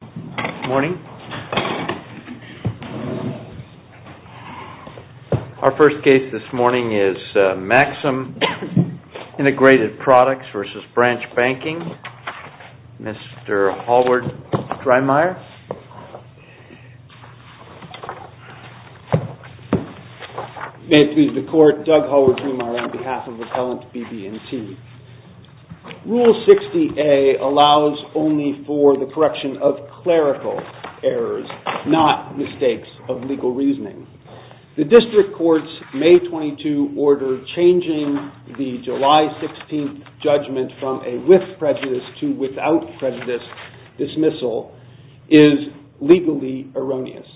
Good morning. Our first case this morning is Maxim Integrated Products v. Branch Banking. Mr. Hallward-Drymeier. May it please the Court, Doug Hallward-Drymeier on behalf of Appellant BB&T. Rule 60A allows only for the correction of clerical errors, not mistakes of legal reasoning. The District Court's May 22 order changing the July 16th judgment from a with prejudice to without prejudice dismissal is legally erroneous.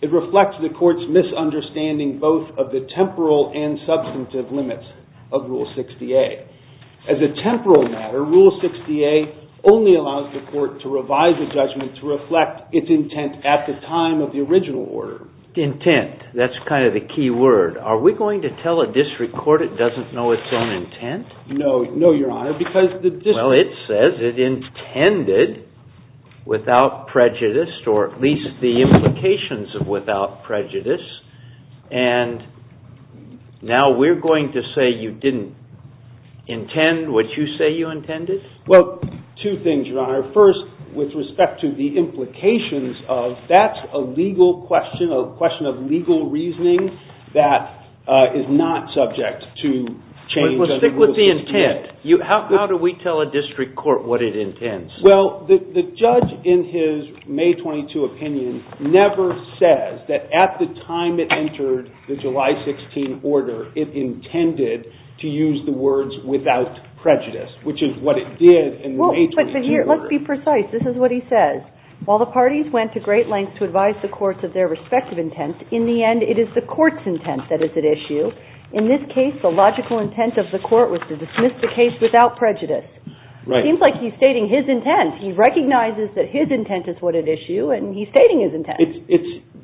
It reflects the Court's misunderstanding both of the temporal and substantive limits of Rule 60A. As a temporal matter, Rule 60A only allows the Court to revise a judgment to reflect its intent at the time of the original order. Intent, that's kind of the key word. Are we going to tell a District Court it doesn't know its own intent? Well, it says it intended without prejudice, or at least the implications of without prejudice. And now we're going to say you didn't intend what you say you intended? Well, two things, Your Honor. First, with respect to the implications of that's a legal question, a question of legal reasoning that is not subject to change. Well, stick with the intent. How do we tell a District Court what it intends? Well, the judge in his May 22 opinion never says that at the time it entered the July 16 order it intended to use the words without prejudice, which is what it did in the May 22 order. Let's be precise. This is what he says. While the parties went to great lengths to advise the courts of their respective intents, in the end it is the Court's intent that is at issue. In this case, the logical intent of the Court was to dismiss the case without prejudice. It seems like he's stating his intent. He recognizes that his intent is what at issue, and he's stating his intent.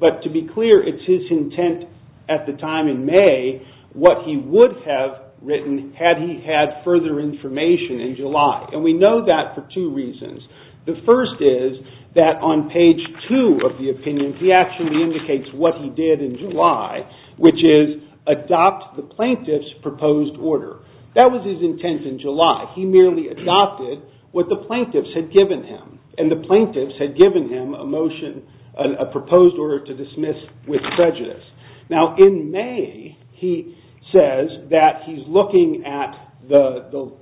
But to be clear, it's his intent at the time in May what he would have written had he had further information in July. And we know that for two reasons. The first is that on page two of the opinion, he actually indicates what he did in July, which is adopt the plaintiff's proposed order. That was his intent in July. He merely adopted what the plaintiffs had given him, and the plaintiffs had given him a motion, a proposed order to dismiss with prejudice. Now, in May, he says that he's looking at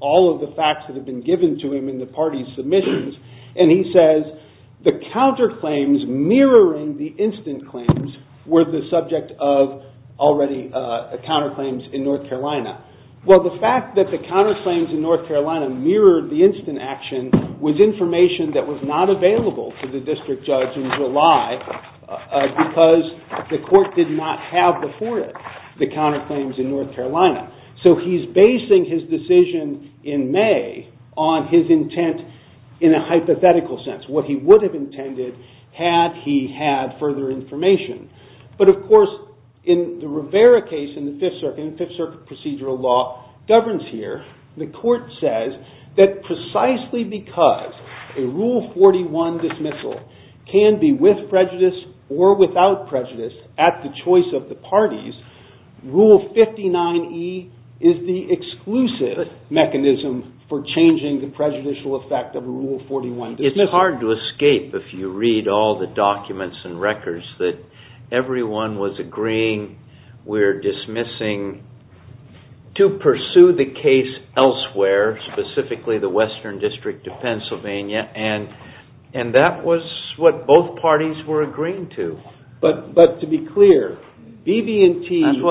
all of the facts that have been given to him in the parties' submissions, and he says the counterclaims mirroring the instant claims were the subject of already counterclaims in North Carolina. Well, the fact that the counterclaims in North Carolina mirrored the instant action was information that was not available to the district judge in July because the court did not have before it the counterclaims in North Carolina. So he's basing his decision in May on his intent in a hypothetical sense, what he would have intended had he had further information. But, of course, in the Rivera case in the Fifth Circuit, the Fifth Circuit procedural law governs here. The court says that precisely because a Rule 41 dismissal can be with prejudice or without prejudice at the choice of the parties, Rule 59E is the exclusive mechanism for changing the prejudicial effect of a Rule 41 dismissal. It's hard to escape if you read all the documents and records that everyone was agreeing we're dismissing to pursue the case elsewhere, specifically the Western District of Pennsylvania, and that was what both parties were agreeing to. But to be clear, BB&T...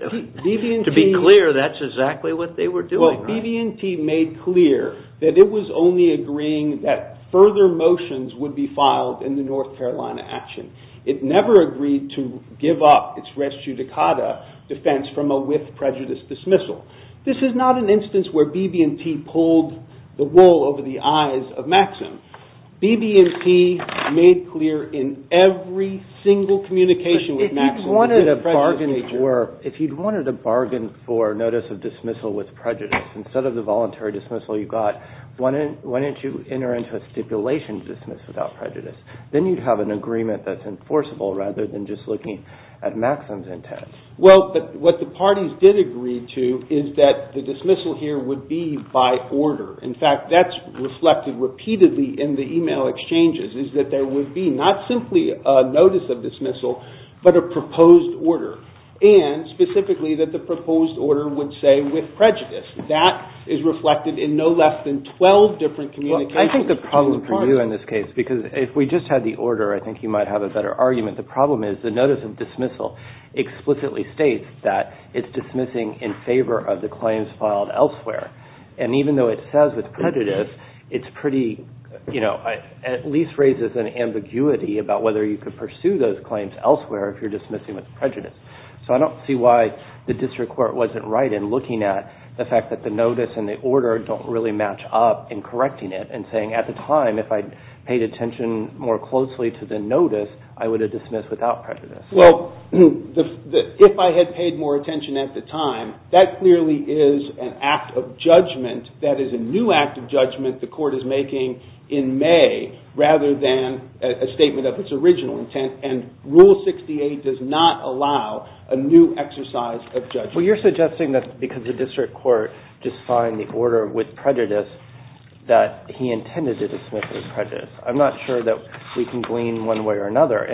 To be clear, that's exactly what they were doing. BB&T made clear that it was only agreeing that further motions would be filed in the North Carolina action. It never agreed to give up its res judicata defense from a with prejudice dismissal. This is not an instance where BB&T pulled the wool over the eyes of Maxim. BB&T made clear in every single communication with Maxim... If you wanted a bargain for notice of dismissal with prejudice, instead of the voluntary dismissal you got, why didn't you enter into a stipulation to dismiss without prejudice? Then you'd have an agreement that's enforceable rather than just looking at Maxim's intent. Well, what the parties did agree to is that the dismissal here would be by order. In fact, that's reflected repeatedly in the email exchanges, is that there would be not simply a notice of dismissal, but a proposed order, and specifically that the proposed order would say with prejudice. That is reflected in no less than 12 different communications between the parties. I think the problem for you in this case, because if we just had the order, I think you might have a better argument. The problem is the notice of dismissal explicitly states that it's dismissing in favor of the claims filed elsewhere. Even though it says with prejudice, it at least raises an ambiguity about whether you could pursue those claims elsewhere if you're dismissing with prejudice. I don't see why the district court wasn't right in looking at the fact that the notice and the order don't really match up in correcting it and saying at the time if I'd paid attention more closely to the notice, I would have dismissed without prejudice. Well, if I had paid more attention at the time, that clearly is an act of judgment. That is a new act of judgment the court is making in May rather than a statement of its original intent, and Rule 68 does not allow a new exercise of judgment. Well, you're suggesting that because the district court just signed the order with prejudice that he intended to dismiss with prejudice. I'm not sure that we can glean one way or another.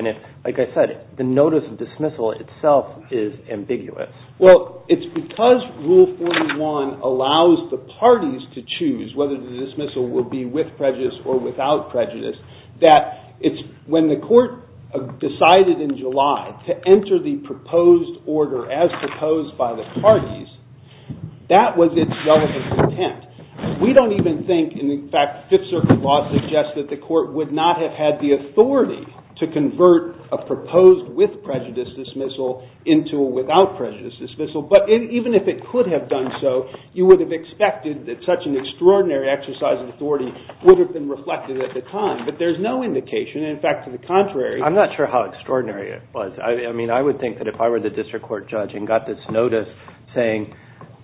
Like I said, the notice of dismissal itself is ambiguous. Well, it's because Rule 41 allows the parties to choose whether the dismissal will be with prejudice or without prejudice that when the court decided in July to enter the proposed order as proposed by the parties, that was its relevant intent. We don't even think, in fact, Fifth Circuit law suggests that the court would not have had the authority to convert a proposed with prejudice dismissal into a without prejudice dismissal, but even if it could have done so, you would have expected that such an extraordinary exercise of authority would have been reflected at the time, but there's no indication. In fact, to the contrary. I'm not sure how extraordinary it was. I mean, I would think that if I were the district court judge and got this notice saying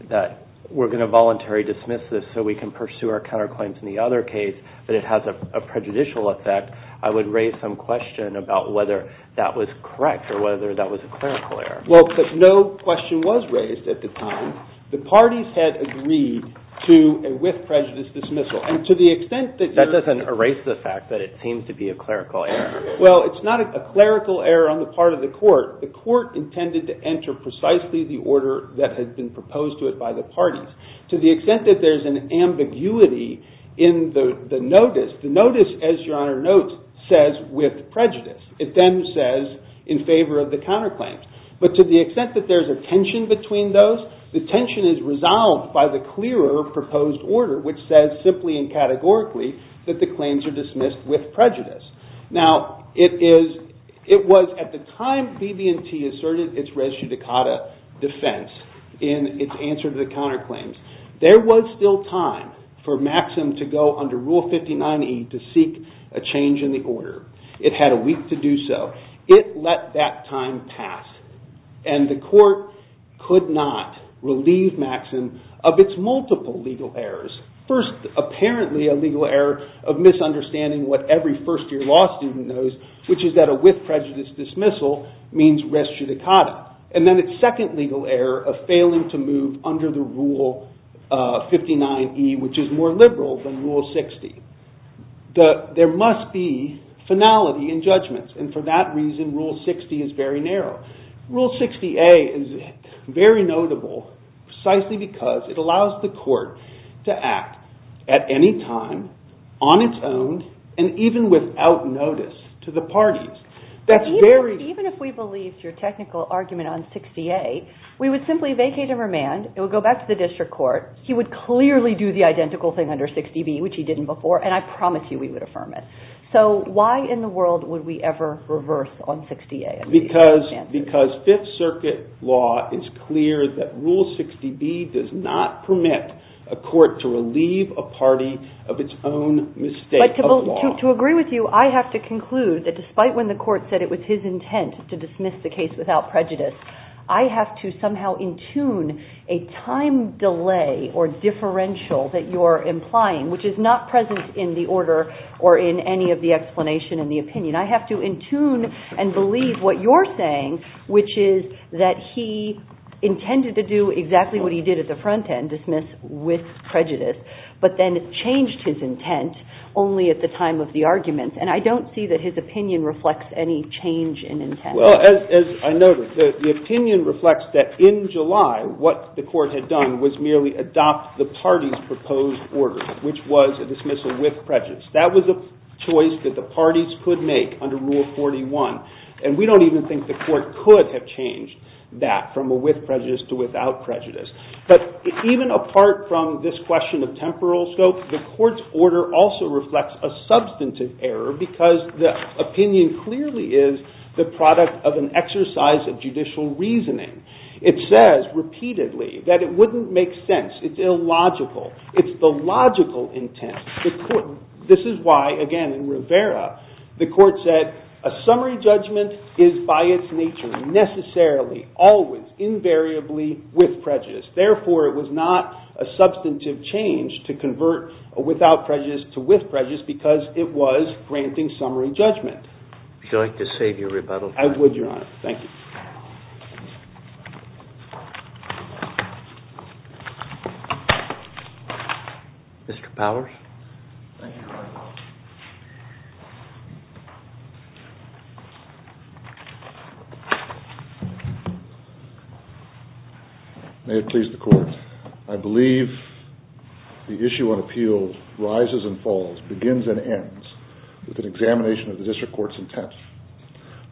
that we're going to voluntary dismiss this so we can pursue our counterclaims in the other case, that it has a prejudicial effect, I would raise some question about whether that was correct or whether that was a clerical error. Well, but no question was raised at the time. The parties had agreed to a with prejudice dismissal, and to the extent that you're That doesn't erase the fact that it seems to be a clerical error. Well, it's not a clerical error on the part of the court. The court intended to enter precisely the order that had been proposed to it by the parties. To the extent that there's an ambiguity in the notice, the notice, as Your Honor notes, says with prejudice. It then says in favor of the counterclaims, but to the extent that there's a tension between those, the tension is resolved by the clearer proposed order, which says simply and categorically that the claims are dismissed with prejudice. Now, it was at the time BB&T asserted its res judicata defense in its answer to the counterclaims. There was still time for Maxim to go under Rule 59E to seek a change in the order. It had a week to do so. It let that time pass, and the court could not relieve Maxim of its multiple legal errors. First, apparently a legal error of misunderstanding what every first-year law student knows, which is that a with prejudice dismissal means res judicata. And then its second legal error of failing to move under the Rule 59E, which is more liberal than Rule 60. There must be finality in judgments, and for that reason, Rule 60 is very narrow. Rule 60A is very notable precisely because it allows the court to act at any time on its own and even without notice to the parties. Even if we believed your technical argument on 60A, we would simply vacate and remand. It would go back to the district court. He would clearly do the identical thing under 60B, which he didn't before, and I promise you we would affirm it. So why in the world would we ever reverse on 60A? Because Fifth Circuit law is clear that Rule 60B does not permit a court to relieve a party of its own mistake. But to agree with you, I have to conclude that despite when the court said it was his intent to dismiss the case without prejudice, I have to somehow in tune a time delay or differential that you're implying, which is not present in the order or in any of the explanation in the opinion. I have to in tune and believe what you're saying, which is that he intended to do exactly what he did at the front end, dismiss with prejudice, but then changed his intent only at the time of the argument, and I don't see that his opinion reflects any change in intent. Well, as I noted, the opinion reflects that in July, what the court had done was merely adopt the party's proposed order, which was a dismissal with prejudice. That was a choice that the parties could make under Rule 41, and we don't even think the court could have changed that from a with prejudice to without prejudice. But even apart from this question of temporal scope, the court's order also reflects a substantive error because the opinion clearly is the product of an exercise of judicial reasoning. It says repeatedly that it wouldn't make sense. It's illogical. It's the logical intent. This is why, again, in Rivera, the court said a summary judgment is by its nature necessarily, always, invariably with prejudice. Therefore, it was not a substantive change to convert a without prejudice to with prejudice because it was granting summary judgment. Would you like to save your rebuttal? I would, Your Honor. Thank you. Mr. Powers. Thank you, Your Honor. May it please the court. I believe the issue on appeal rises and falls, begins and ends with an examination of the district court's intent.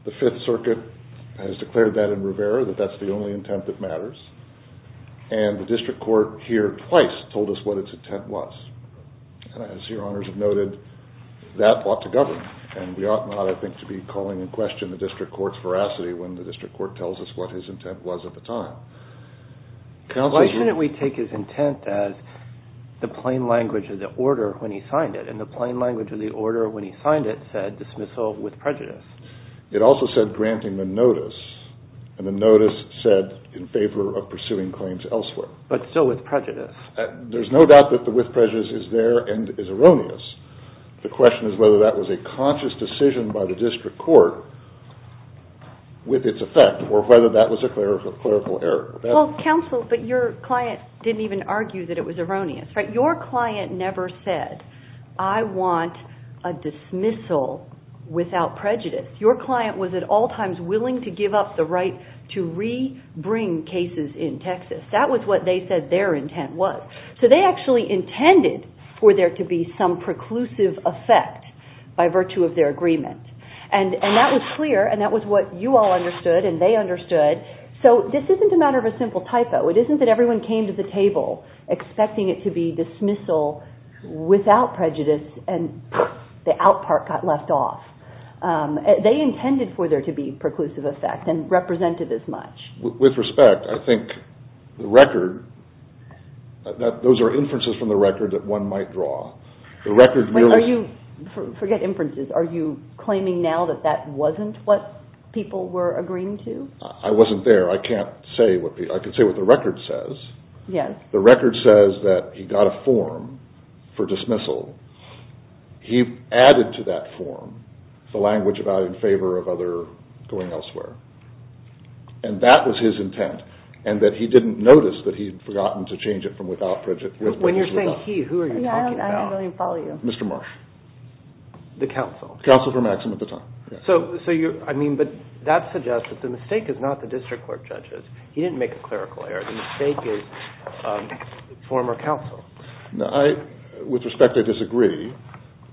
The Fifth Circuit has declared that in Rivera, that that's the only intent that matters, and the district court here twice told us what its intent was. As Your Honors have noted, that ought to govern, and we ought not, I think, to be calling in question the district court's veracity when the district court tells us what his intent was at the time. Why shouldn't we take his intent as the plain language of the order when he signed it, and the plain language of the order when he signed it said dismissal with prejudice? It also said granting the notice, and the notice said in favor of pursuing claims elsewhere. But still with prejudice. There's no doubt that the with prejudice is there and is erroneous. The question is whether that was a conscious decision by the district court with its effect or whether that was a clerical error. Counsel, but your client didn't even argue that it was erroneous. Your client never said, I want a dismissal without prejudice. Your client was at all times willing to give up the right to re-bring cases in Texas. That was what they said their intent was. So they actually intended for there to be some preclusive effect by virtue of their agreement. And that was clear, and that was what you all understood, and they understood. So this isn't a matter of a simple typo. It isn't that everyone came to the table expecting it to be dismissal without prejudice, and the out part got left off. They intended for there to be preclusive effect and represented as much. With respect, I think the record, those are inferences from the record that one might draw. The record really – Forget inferences. Are you claiming now that that wasn't what people were agreeing to? I wasn't there. I can't say what people – I can say what the record says. The record says that he got a form for dismissal. He added to that form the language about in favor of other going elsewhere. And that was his intent, and that he didn't notice that he had forgotten to change it from without prejudice. When you're saying he, who are you talking about? I don't even follow you. Mr. Marsh. The counsel. Counsel for Maxim at the time. But that suggests that the mistake is not the district court judges. He didn't make a clerical error. The mistake is the former counsel. With respect, I disagree.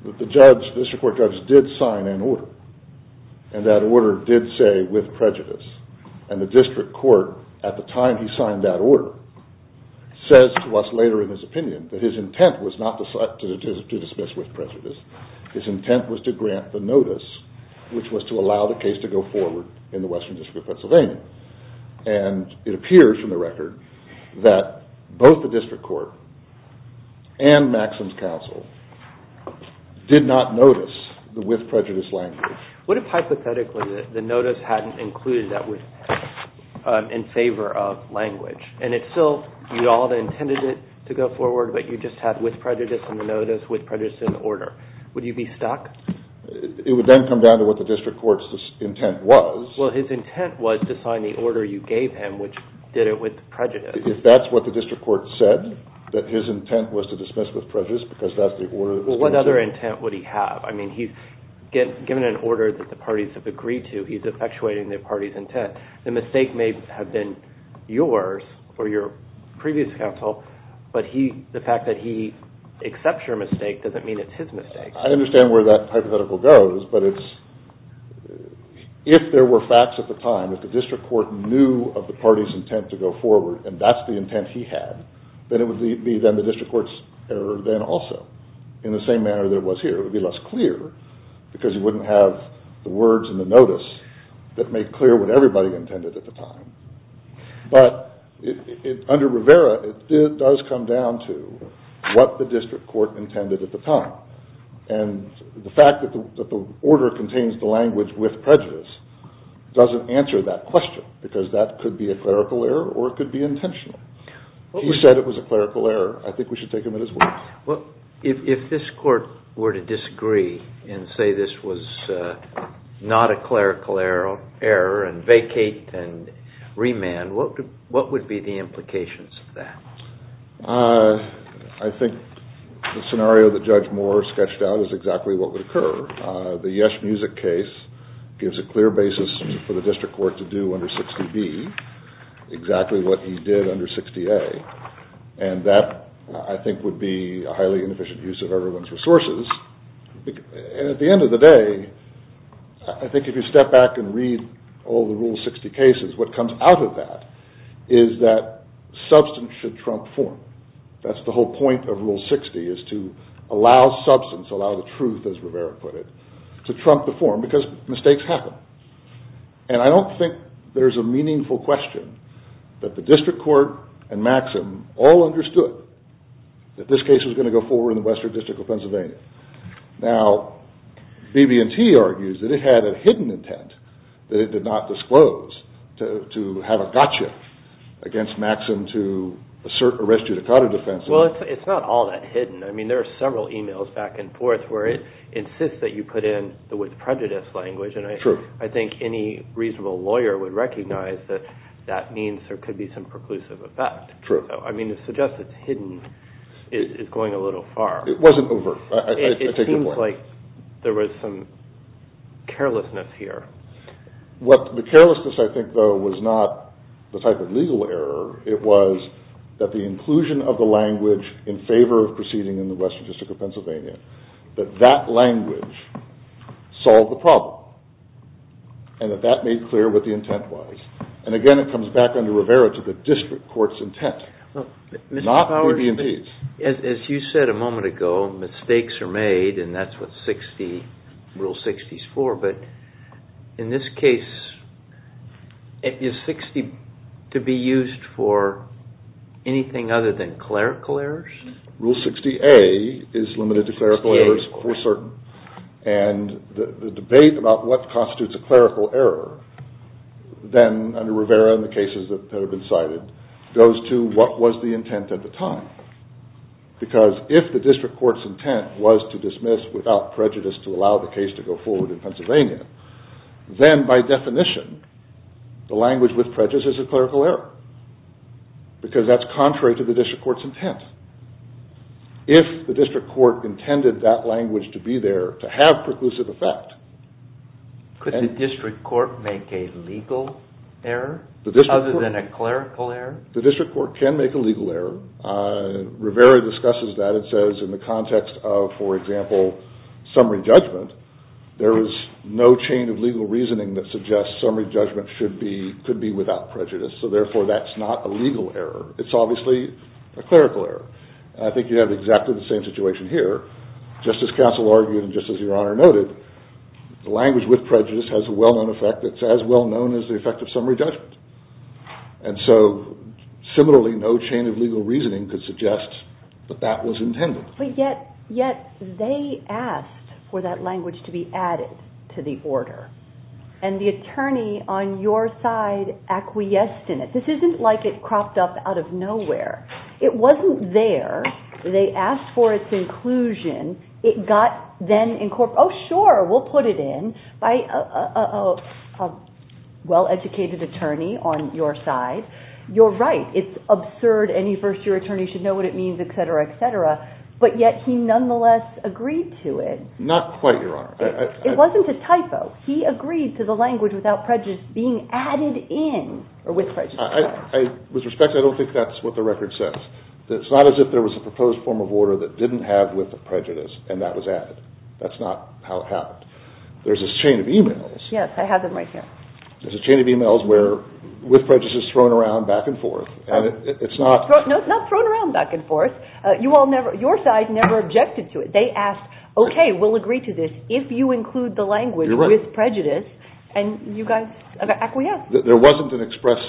The district court judge did sign an order, and that order did say with prejudice. And the district court, at the time he signed that order, says to us later in his opinion that his intent was not to dismiss with prejudice. His intent was to grant the notice, which was to allow the case to go forward in the Western District of Pennsylvania. And it appears from the record that both the district court and Maxim's counsel did not notice the with prejudice language. What if, hypothetically, the notice hadn't included that with prejudice in favor of language, and it still, you all had intended it to go forward, but you just had with prejudice in the notice, with prejudice in the order. Would you be stuck? It would then come down to what the district court's intent was. Well, his intent was to sign the order you gave him, which did it with prejudice. If that's what the district court said, that his intent was to dismiss with prejudice because that's the order that was given to him. Well, what other intent would he have? I mean, he's given an order that the parties have agreed to. He's effectuating the party's intent. The mistake may have been yours or your previous counsel, but the fact that he accepts your mistake doesn't mean it's his mistake. I understand where that hypothetical goes, but if there were facts at the time, if the district court knew of the party's intent to go forward, and that's the intent he had, then it would be the district court's error then also, in the same manner that it was here. It would be less clear because he wouldn't have the words in the notice that made clear what everybody intended at the time. But under Rivera, it does come down to what the district court intended at the time. And the fact that the order contains the language with prejudice doesn't answer that question because that could be a clerical error or it could be intentional. He said it was a clerical error. I think we should take him at his word. If this court were to disagree and say this was not a clerical error and vacate and remand, what would be the implications of that? I think the scenario that Judge Moore sketched out is exactly what would occur. The Yesh Music case gives a clear basis for the district court to do under 60B exactly what he did under 60A. And that, I think, would be a highly inefficient use of everyone's resources. At the end of the day, I think if you step back and read all the Rule 60 cases, what comes out of that is that substance should trump form. That's the whole point of Rule 60 is to allow substance, allow the truth as Rivera put it, to trump the form because mistakes happen. And I don't think there's a meaningful question that the district court and Maxim all understood that this case was going to go forward in the Western District of Pennsylvania. Now, BB&T argues that it had a hidden intent that it did not disclose to have a gotcha against Maxim to assert a res judicata defense. Well, it's not all that hidden. I mean, there are several emails back and forth where it insists that you put in the with prejudice language. And I think any reasonable lawyer would recognize that that means there could be some preclusive effect. I mean, to suggest it's hidden is going a little far. It wasn't overt. I take your point. It seems like there was some carelessness here. The carelessness, I think, though, was not the type of legal error. It was that the inclusion of the language in favor of proceeding in the Western District of Pennsylvania, that that language solved the problem. And that that made clear what the intent was. And again, it comes back under Rivera to the district court's intent, not BB&T's. As you said a moment ago, mistakes are made, and that's what Rule 60 is for. But in this case, is 60 to be used for anything other than clerical errors? Rule 60A is limited to clerical errors for certain. And the debate about what constitutes a clerical error, then, under Rivera and the cases that have been cited, goes to what was the intent at the time. Because if the district court's intent was to dismiss without prejudice to allow the case to go forward in Pennsylvania, then, by definition, the language with prejudice is a clerical error, because that's contrary to the district court's intent. If the district court intended that language to be there to have preclusive effect… Could the district court make a legal error other than a clerical error? The district court can make a legal error. Rivera discusses that and says in the context of, for example, summary judgment, there is no chain of legal reasoning that suggests summary judgment could be without prejudice. So, therefore, that's not a legal error. It's obviously a clerical error. I think you have exactly the same situation here. Justice Castle argued, and just as Your Honor noted, the language with prejudice has a well-known effect. It's as well-known as the effect of summary judgment. And so, similarly, no chain of legal reasoning could suggest that that was intended. But yet they asked for that language to be added to the order. And the attorney on your side acquiesced in it. This isn't like it cropped up out of nowhere. It wasn't there. They asked for its inclusion. It got then incorporated. Oh, sure, we'll put it in by a well-educated attorney on your side. You're right. It's absurd. Any first-year attorney should know what it means, etc., etc. But yet he nonetheless agreed to it. Not quite, Your Honor. It wasn't a typo. He agreed to the language without prejudice being added in, or with prejudice. With respect, I don't think that's what the record says. It's not as if there was a proposed form of order that didn't have with prejudice, and that was added. That's not how it happened. There's this chain of emails. Yes, I have them right here. There's a chain of emails where with prejudice is thrown around back and forth. No, it's not thrown around back and forth. Your side never objected to it. They asked, okay, we'll agree to this if you include the language with prejudice, and you guys acquiesced. There wasn't an express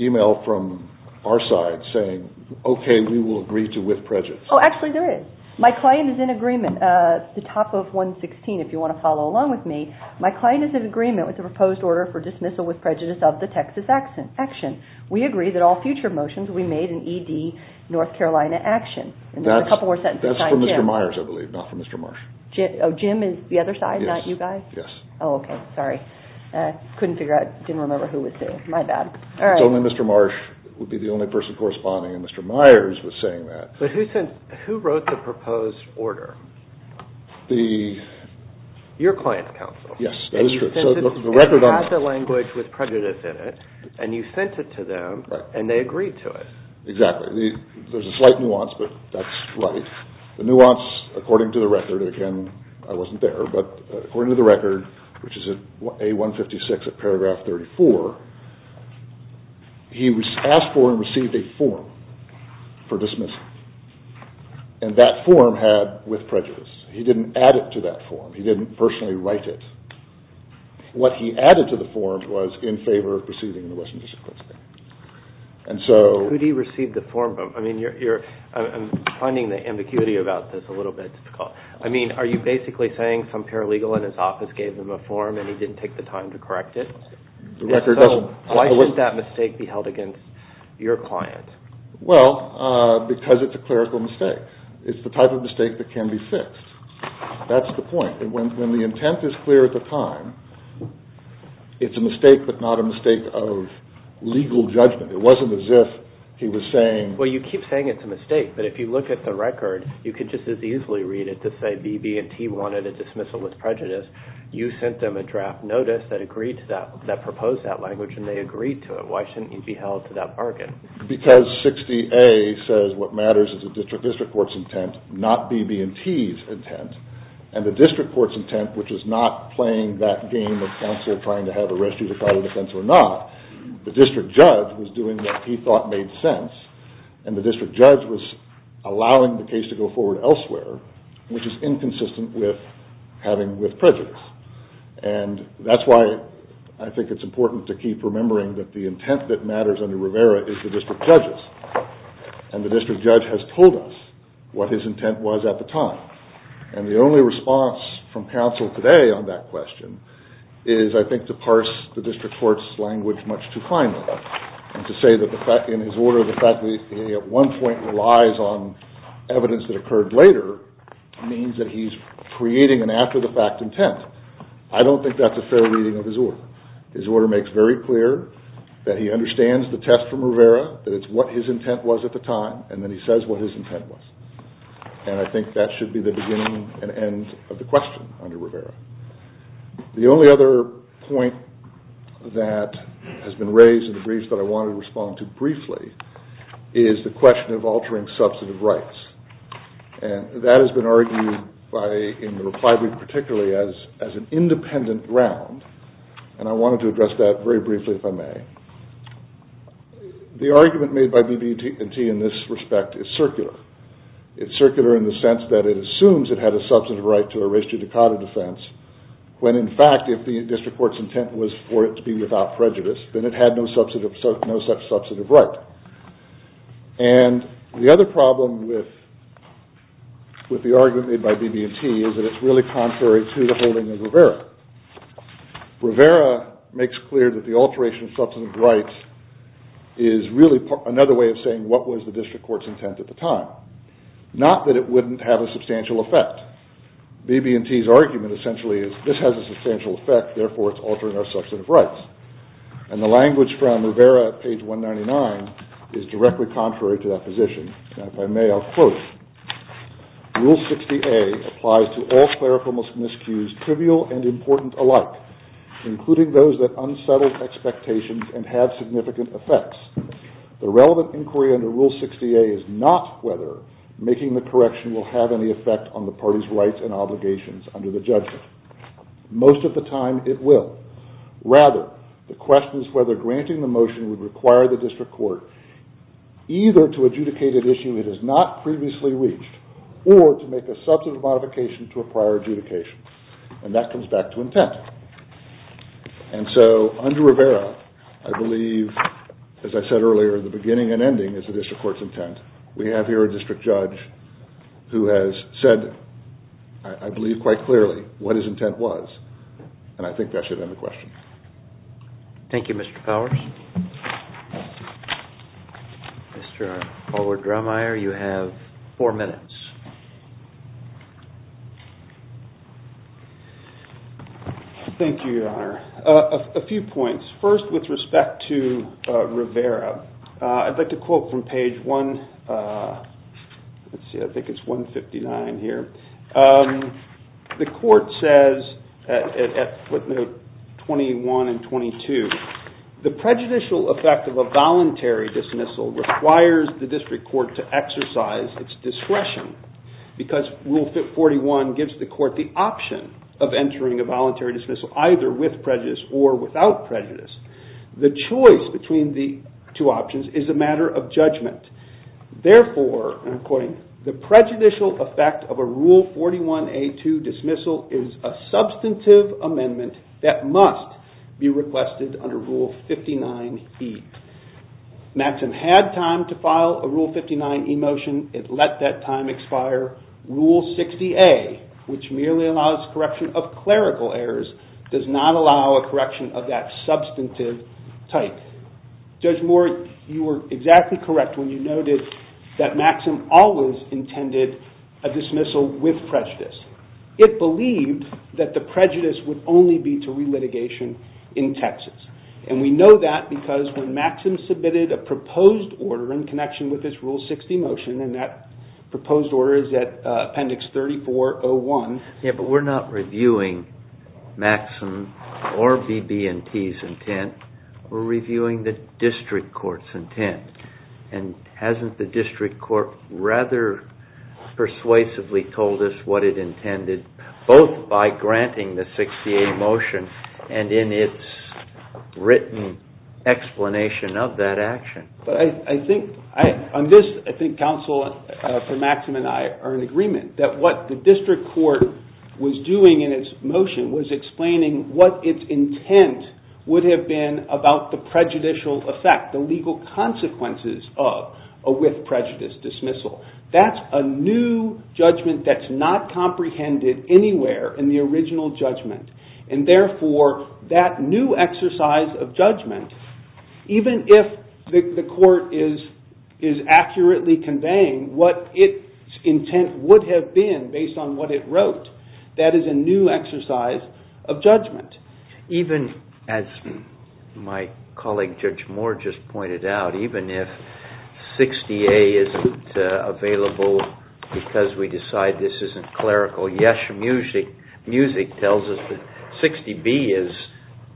email from our side saying, okay, we will agree to with prejudice. Oh, actually, there is. My client is in agreement. The top of 116, if you want to follow along with me. My client is in agreement with the proposed order for dismissal with prejudice of the Texas action. We agree that all future motions will be made in ED North Carolina action. That's from Mr. Myers, I believe, not from Mr. Marsh. Jim is the other side, not you guys? Yes. Oh, okay, sorry. I couldn't figure out. I didn't remember who was who. My bad. It's only Mr. Marsh would be the only person corresponding, and Mr. Myers was saying that. Who wrote the proposed order? Your client's counsel. Yes, that is true. And you have the language with prejudice in it, and you sent it to them, and they agreed to it. Exactly. There's a slight nuance, but that's right. The nuance, according to the record, again, I wasn't there, but according to the record, which is A-156 of paragraph 34, he was asked for and received a form for dismissal, and that form had with prejudice. He didn't add it to that form. He didn't personally write it. What he added to the form was in favor of proceeding in the Western District Court. Who did he receive the form from? I'm finding the ambiguity about this a little bit difficult. I mean, are you basically saying some paralegal in his office gave him a form, and he didn't take the time to correct it? Why should that mistake be held against your client? Well, because it's a clerical mistake. It's the type of mistake that can be fixed. That's the point. When the intent is clear at the time, it's a mistake but not a mistake of legal judgment. It wasn't as if he was saying— Well, you keep saying it's a mistake, but if you look at the record, you could just as easily read it to say B, B, and T wanted a dismissal with prejudice. You sent them a draft notice that proposed that language, and they agreed to it. Why shouldn't it be held to that bargain? Because 60A says what matters is the district court's intent, not B, B, and T's intent, and the district court's intent, which is not playing that game of counsel trying to have a restricted trial of defense or not. The district judge was doing what he thought made sense, and the district judge was allowing the case to go forward elsewhere, which is inconsistent with having with prejudice. That's why I think it's important to keep remembering that the intent that matters under Rivera is the district judge's, and the district judge has told us what his intent was at the time. And the only response from counsel today on that question is, I think, to parse the district court's language much too finely and to say that in his order, the fact that he at one point relies on evidence that occurred later means that he's creating an after-the-fact intent. I don't think that's a fair reading of his order. His order makes very clear that he understands the test from Rivera, that it's what his intent was at the time, and then he says what his intent was. And I think that should be the beginning and end of the question under Rivera. The only other point that has been raised in the briefs that I wanted to respond to briefly is the question of altering substantive rights. And that has been argued in the reply particularly as an independent ground, and I wanted to address that very briefly if I may. The argument made by BB&T in this respect is circular. It's circular in the sense that it assumes it had a substantive right to a res judicata defense when in fact, if the district court's intent was for it to be without prejudice, then it had no such substantive right. And the other problem with the argument made by BB&T Rivera makes clear that the alteration of substantive rights is really another way of saying what was the district court's intent at the time. Not that it wouldn't have a substantial effect. BB&T's argument essentially is this has a substantial effect, therefore it's altering our substantive rights. And the language from Rivera at page 199 is directly contrary to that position. Now if I may, I'll quote. Rule 60A applies to all clerical miscues trivial and important alike, including those that unsettle expectations and have significant effects. The relevant inquiry under Rule 60A is not whether making the correction will have any effect on the party's rights and obligations under the judgment. Most of the time, it will. Rather, the question is whether granting the motion would require the district court either to adjudicate an issue it has not previously reached or to make a substantive modification to a prior adjudication. And that comes back to intent. And so under Rivera, I believe, as I said earlier, the beginning and ending is the district court's intent. We have here a district judge who has said, I believe quite clearly, what his intent was. And I think that should end the question. Thank you, Mr. Powers. Mr. Howard-Drumeyer, you have four minutes. Thank you, Your Honor. A few points. First, with respect to Rivera, I'd like to quote from page 159 here. The court says at footnote 21 and 22, the prejudicial effect of a voluntary dismissal requires the district court to exercise its discretion because Rule 41 gives the court the option of entering a voluntary dismissal either with prejudice or without prejudice. The choice between the two options is a matter of judgment. Therefore, and I'm quoting, the prejudicial effect of a Rule 41A2 dismissal is a substantive amendment that must be requested under Rule 59E. Maxim had time to file a Rule 59E motion. It let that time expire. Rule 60A, which merely allows correction of clerical errors, does not allow a correction of that substantive type. Judge Moore, you were exactly correct when you noted that Maxim always intended a dismissal with prejudice. It believed that the prejudice would only be to relitigation in Texas. And we know that because when Maxim submitted a proposed order in connection with this Rule 60 motion, and that proposed order is at Appendix 3401. Yeah, but we're not reviewing Maxim or BB&T's intent. We're reviewing the district court's intent. And hasn't the district court rather persuasively told us what it intended, both by granting the 60A motion and in its written explanation of that action? I think Council for Maxim and I are in agreement that what the district court was doing in its motion was explaining what its intent would have been about the prejudicial effect, the legal consequences of a with prejudice dismissal. That's a new judgment that's not comprehended anywhere in the original judgment. And therefore, that new exercise of judgment, even if the court is accurately conveying what its intent would have been based on what it wrote, that is a new exercise of judgment. Even as my colleague Judge Moore just pointed out, even if 60A isn't available because we decide this isn't clerical, yes, music tells us that 60B is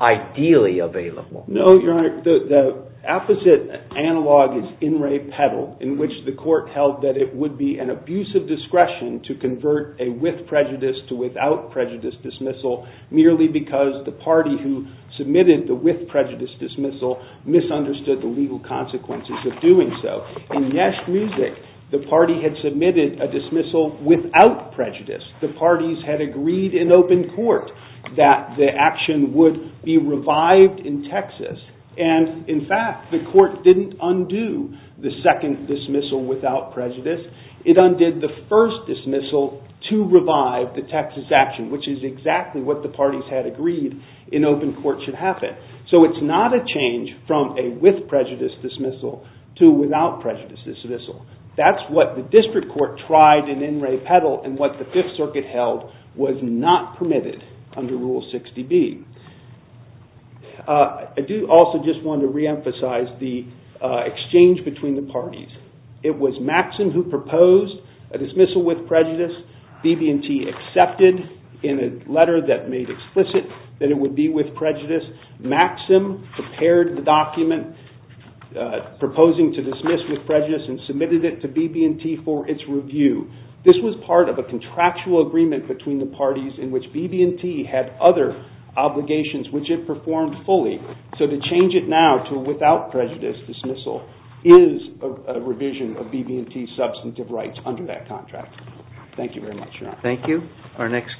ideally available. No, Your Honor, the opposite analog is in re pedal, in which the court held that it would be an abusive discretion to convert a with prejudice to without prejudice dismissal merely because the party who submitted the with prejudice dismissal misunderstood the legal consequences of doing so. In yes, music, the party had submitted a dismissal without prejudice. The parties had agreed in open court that the action would be revived in Texas. And in fact, the court didn't undo the second dismissal without prejudice. It undid the first dismissal to revive the Texas action, which is exactly what the parties had agreed in open court should happen. So it's not a change from a with prejudice dismissal to a without prejudice dismissal. That's what the district court tried in in re pedal and what the Fifth Circuit held was not permitted under Rule 60B. I do also just want to reemphasize the exchange between the parties. It was Maxim who proposed a dismissal with prejudice. BB&T accepted in a letter that made explicit that it would be with prejudice. Maxim prepared the document proposing to dismiss with prejudice and submitted it to BB&T for its review. in which BB&T had other obligations which it performed fully. So to change it now to a without prejudice dismissal is a revision of BB&T's substantive rights under that contract. Thank you very much. Thank you.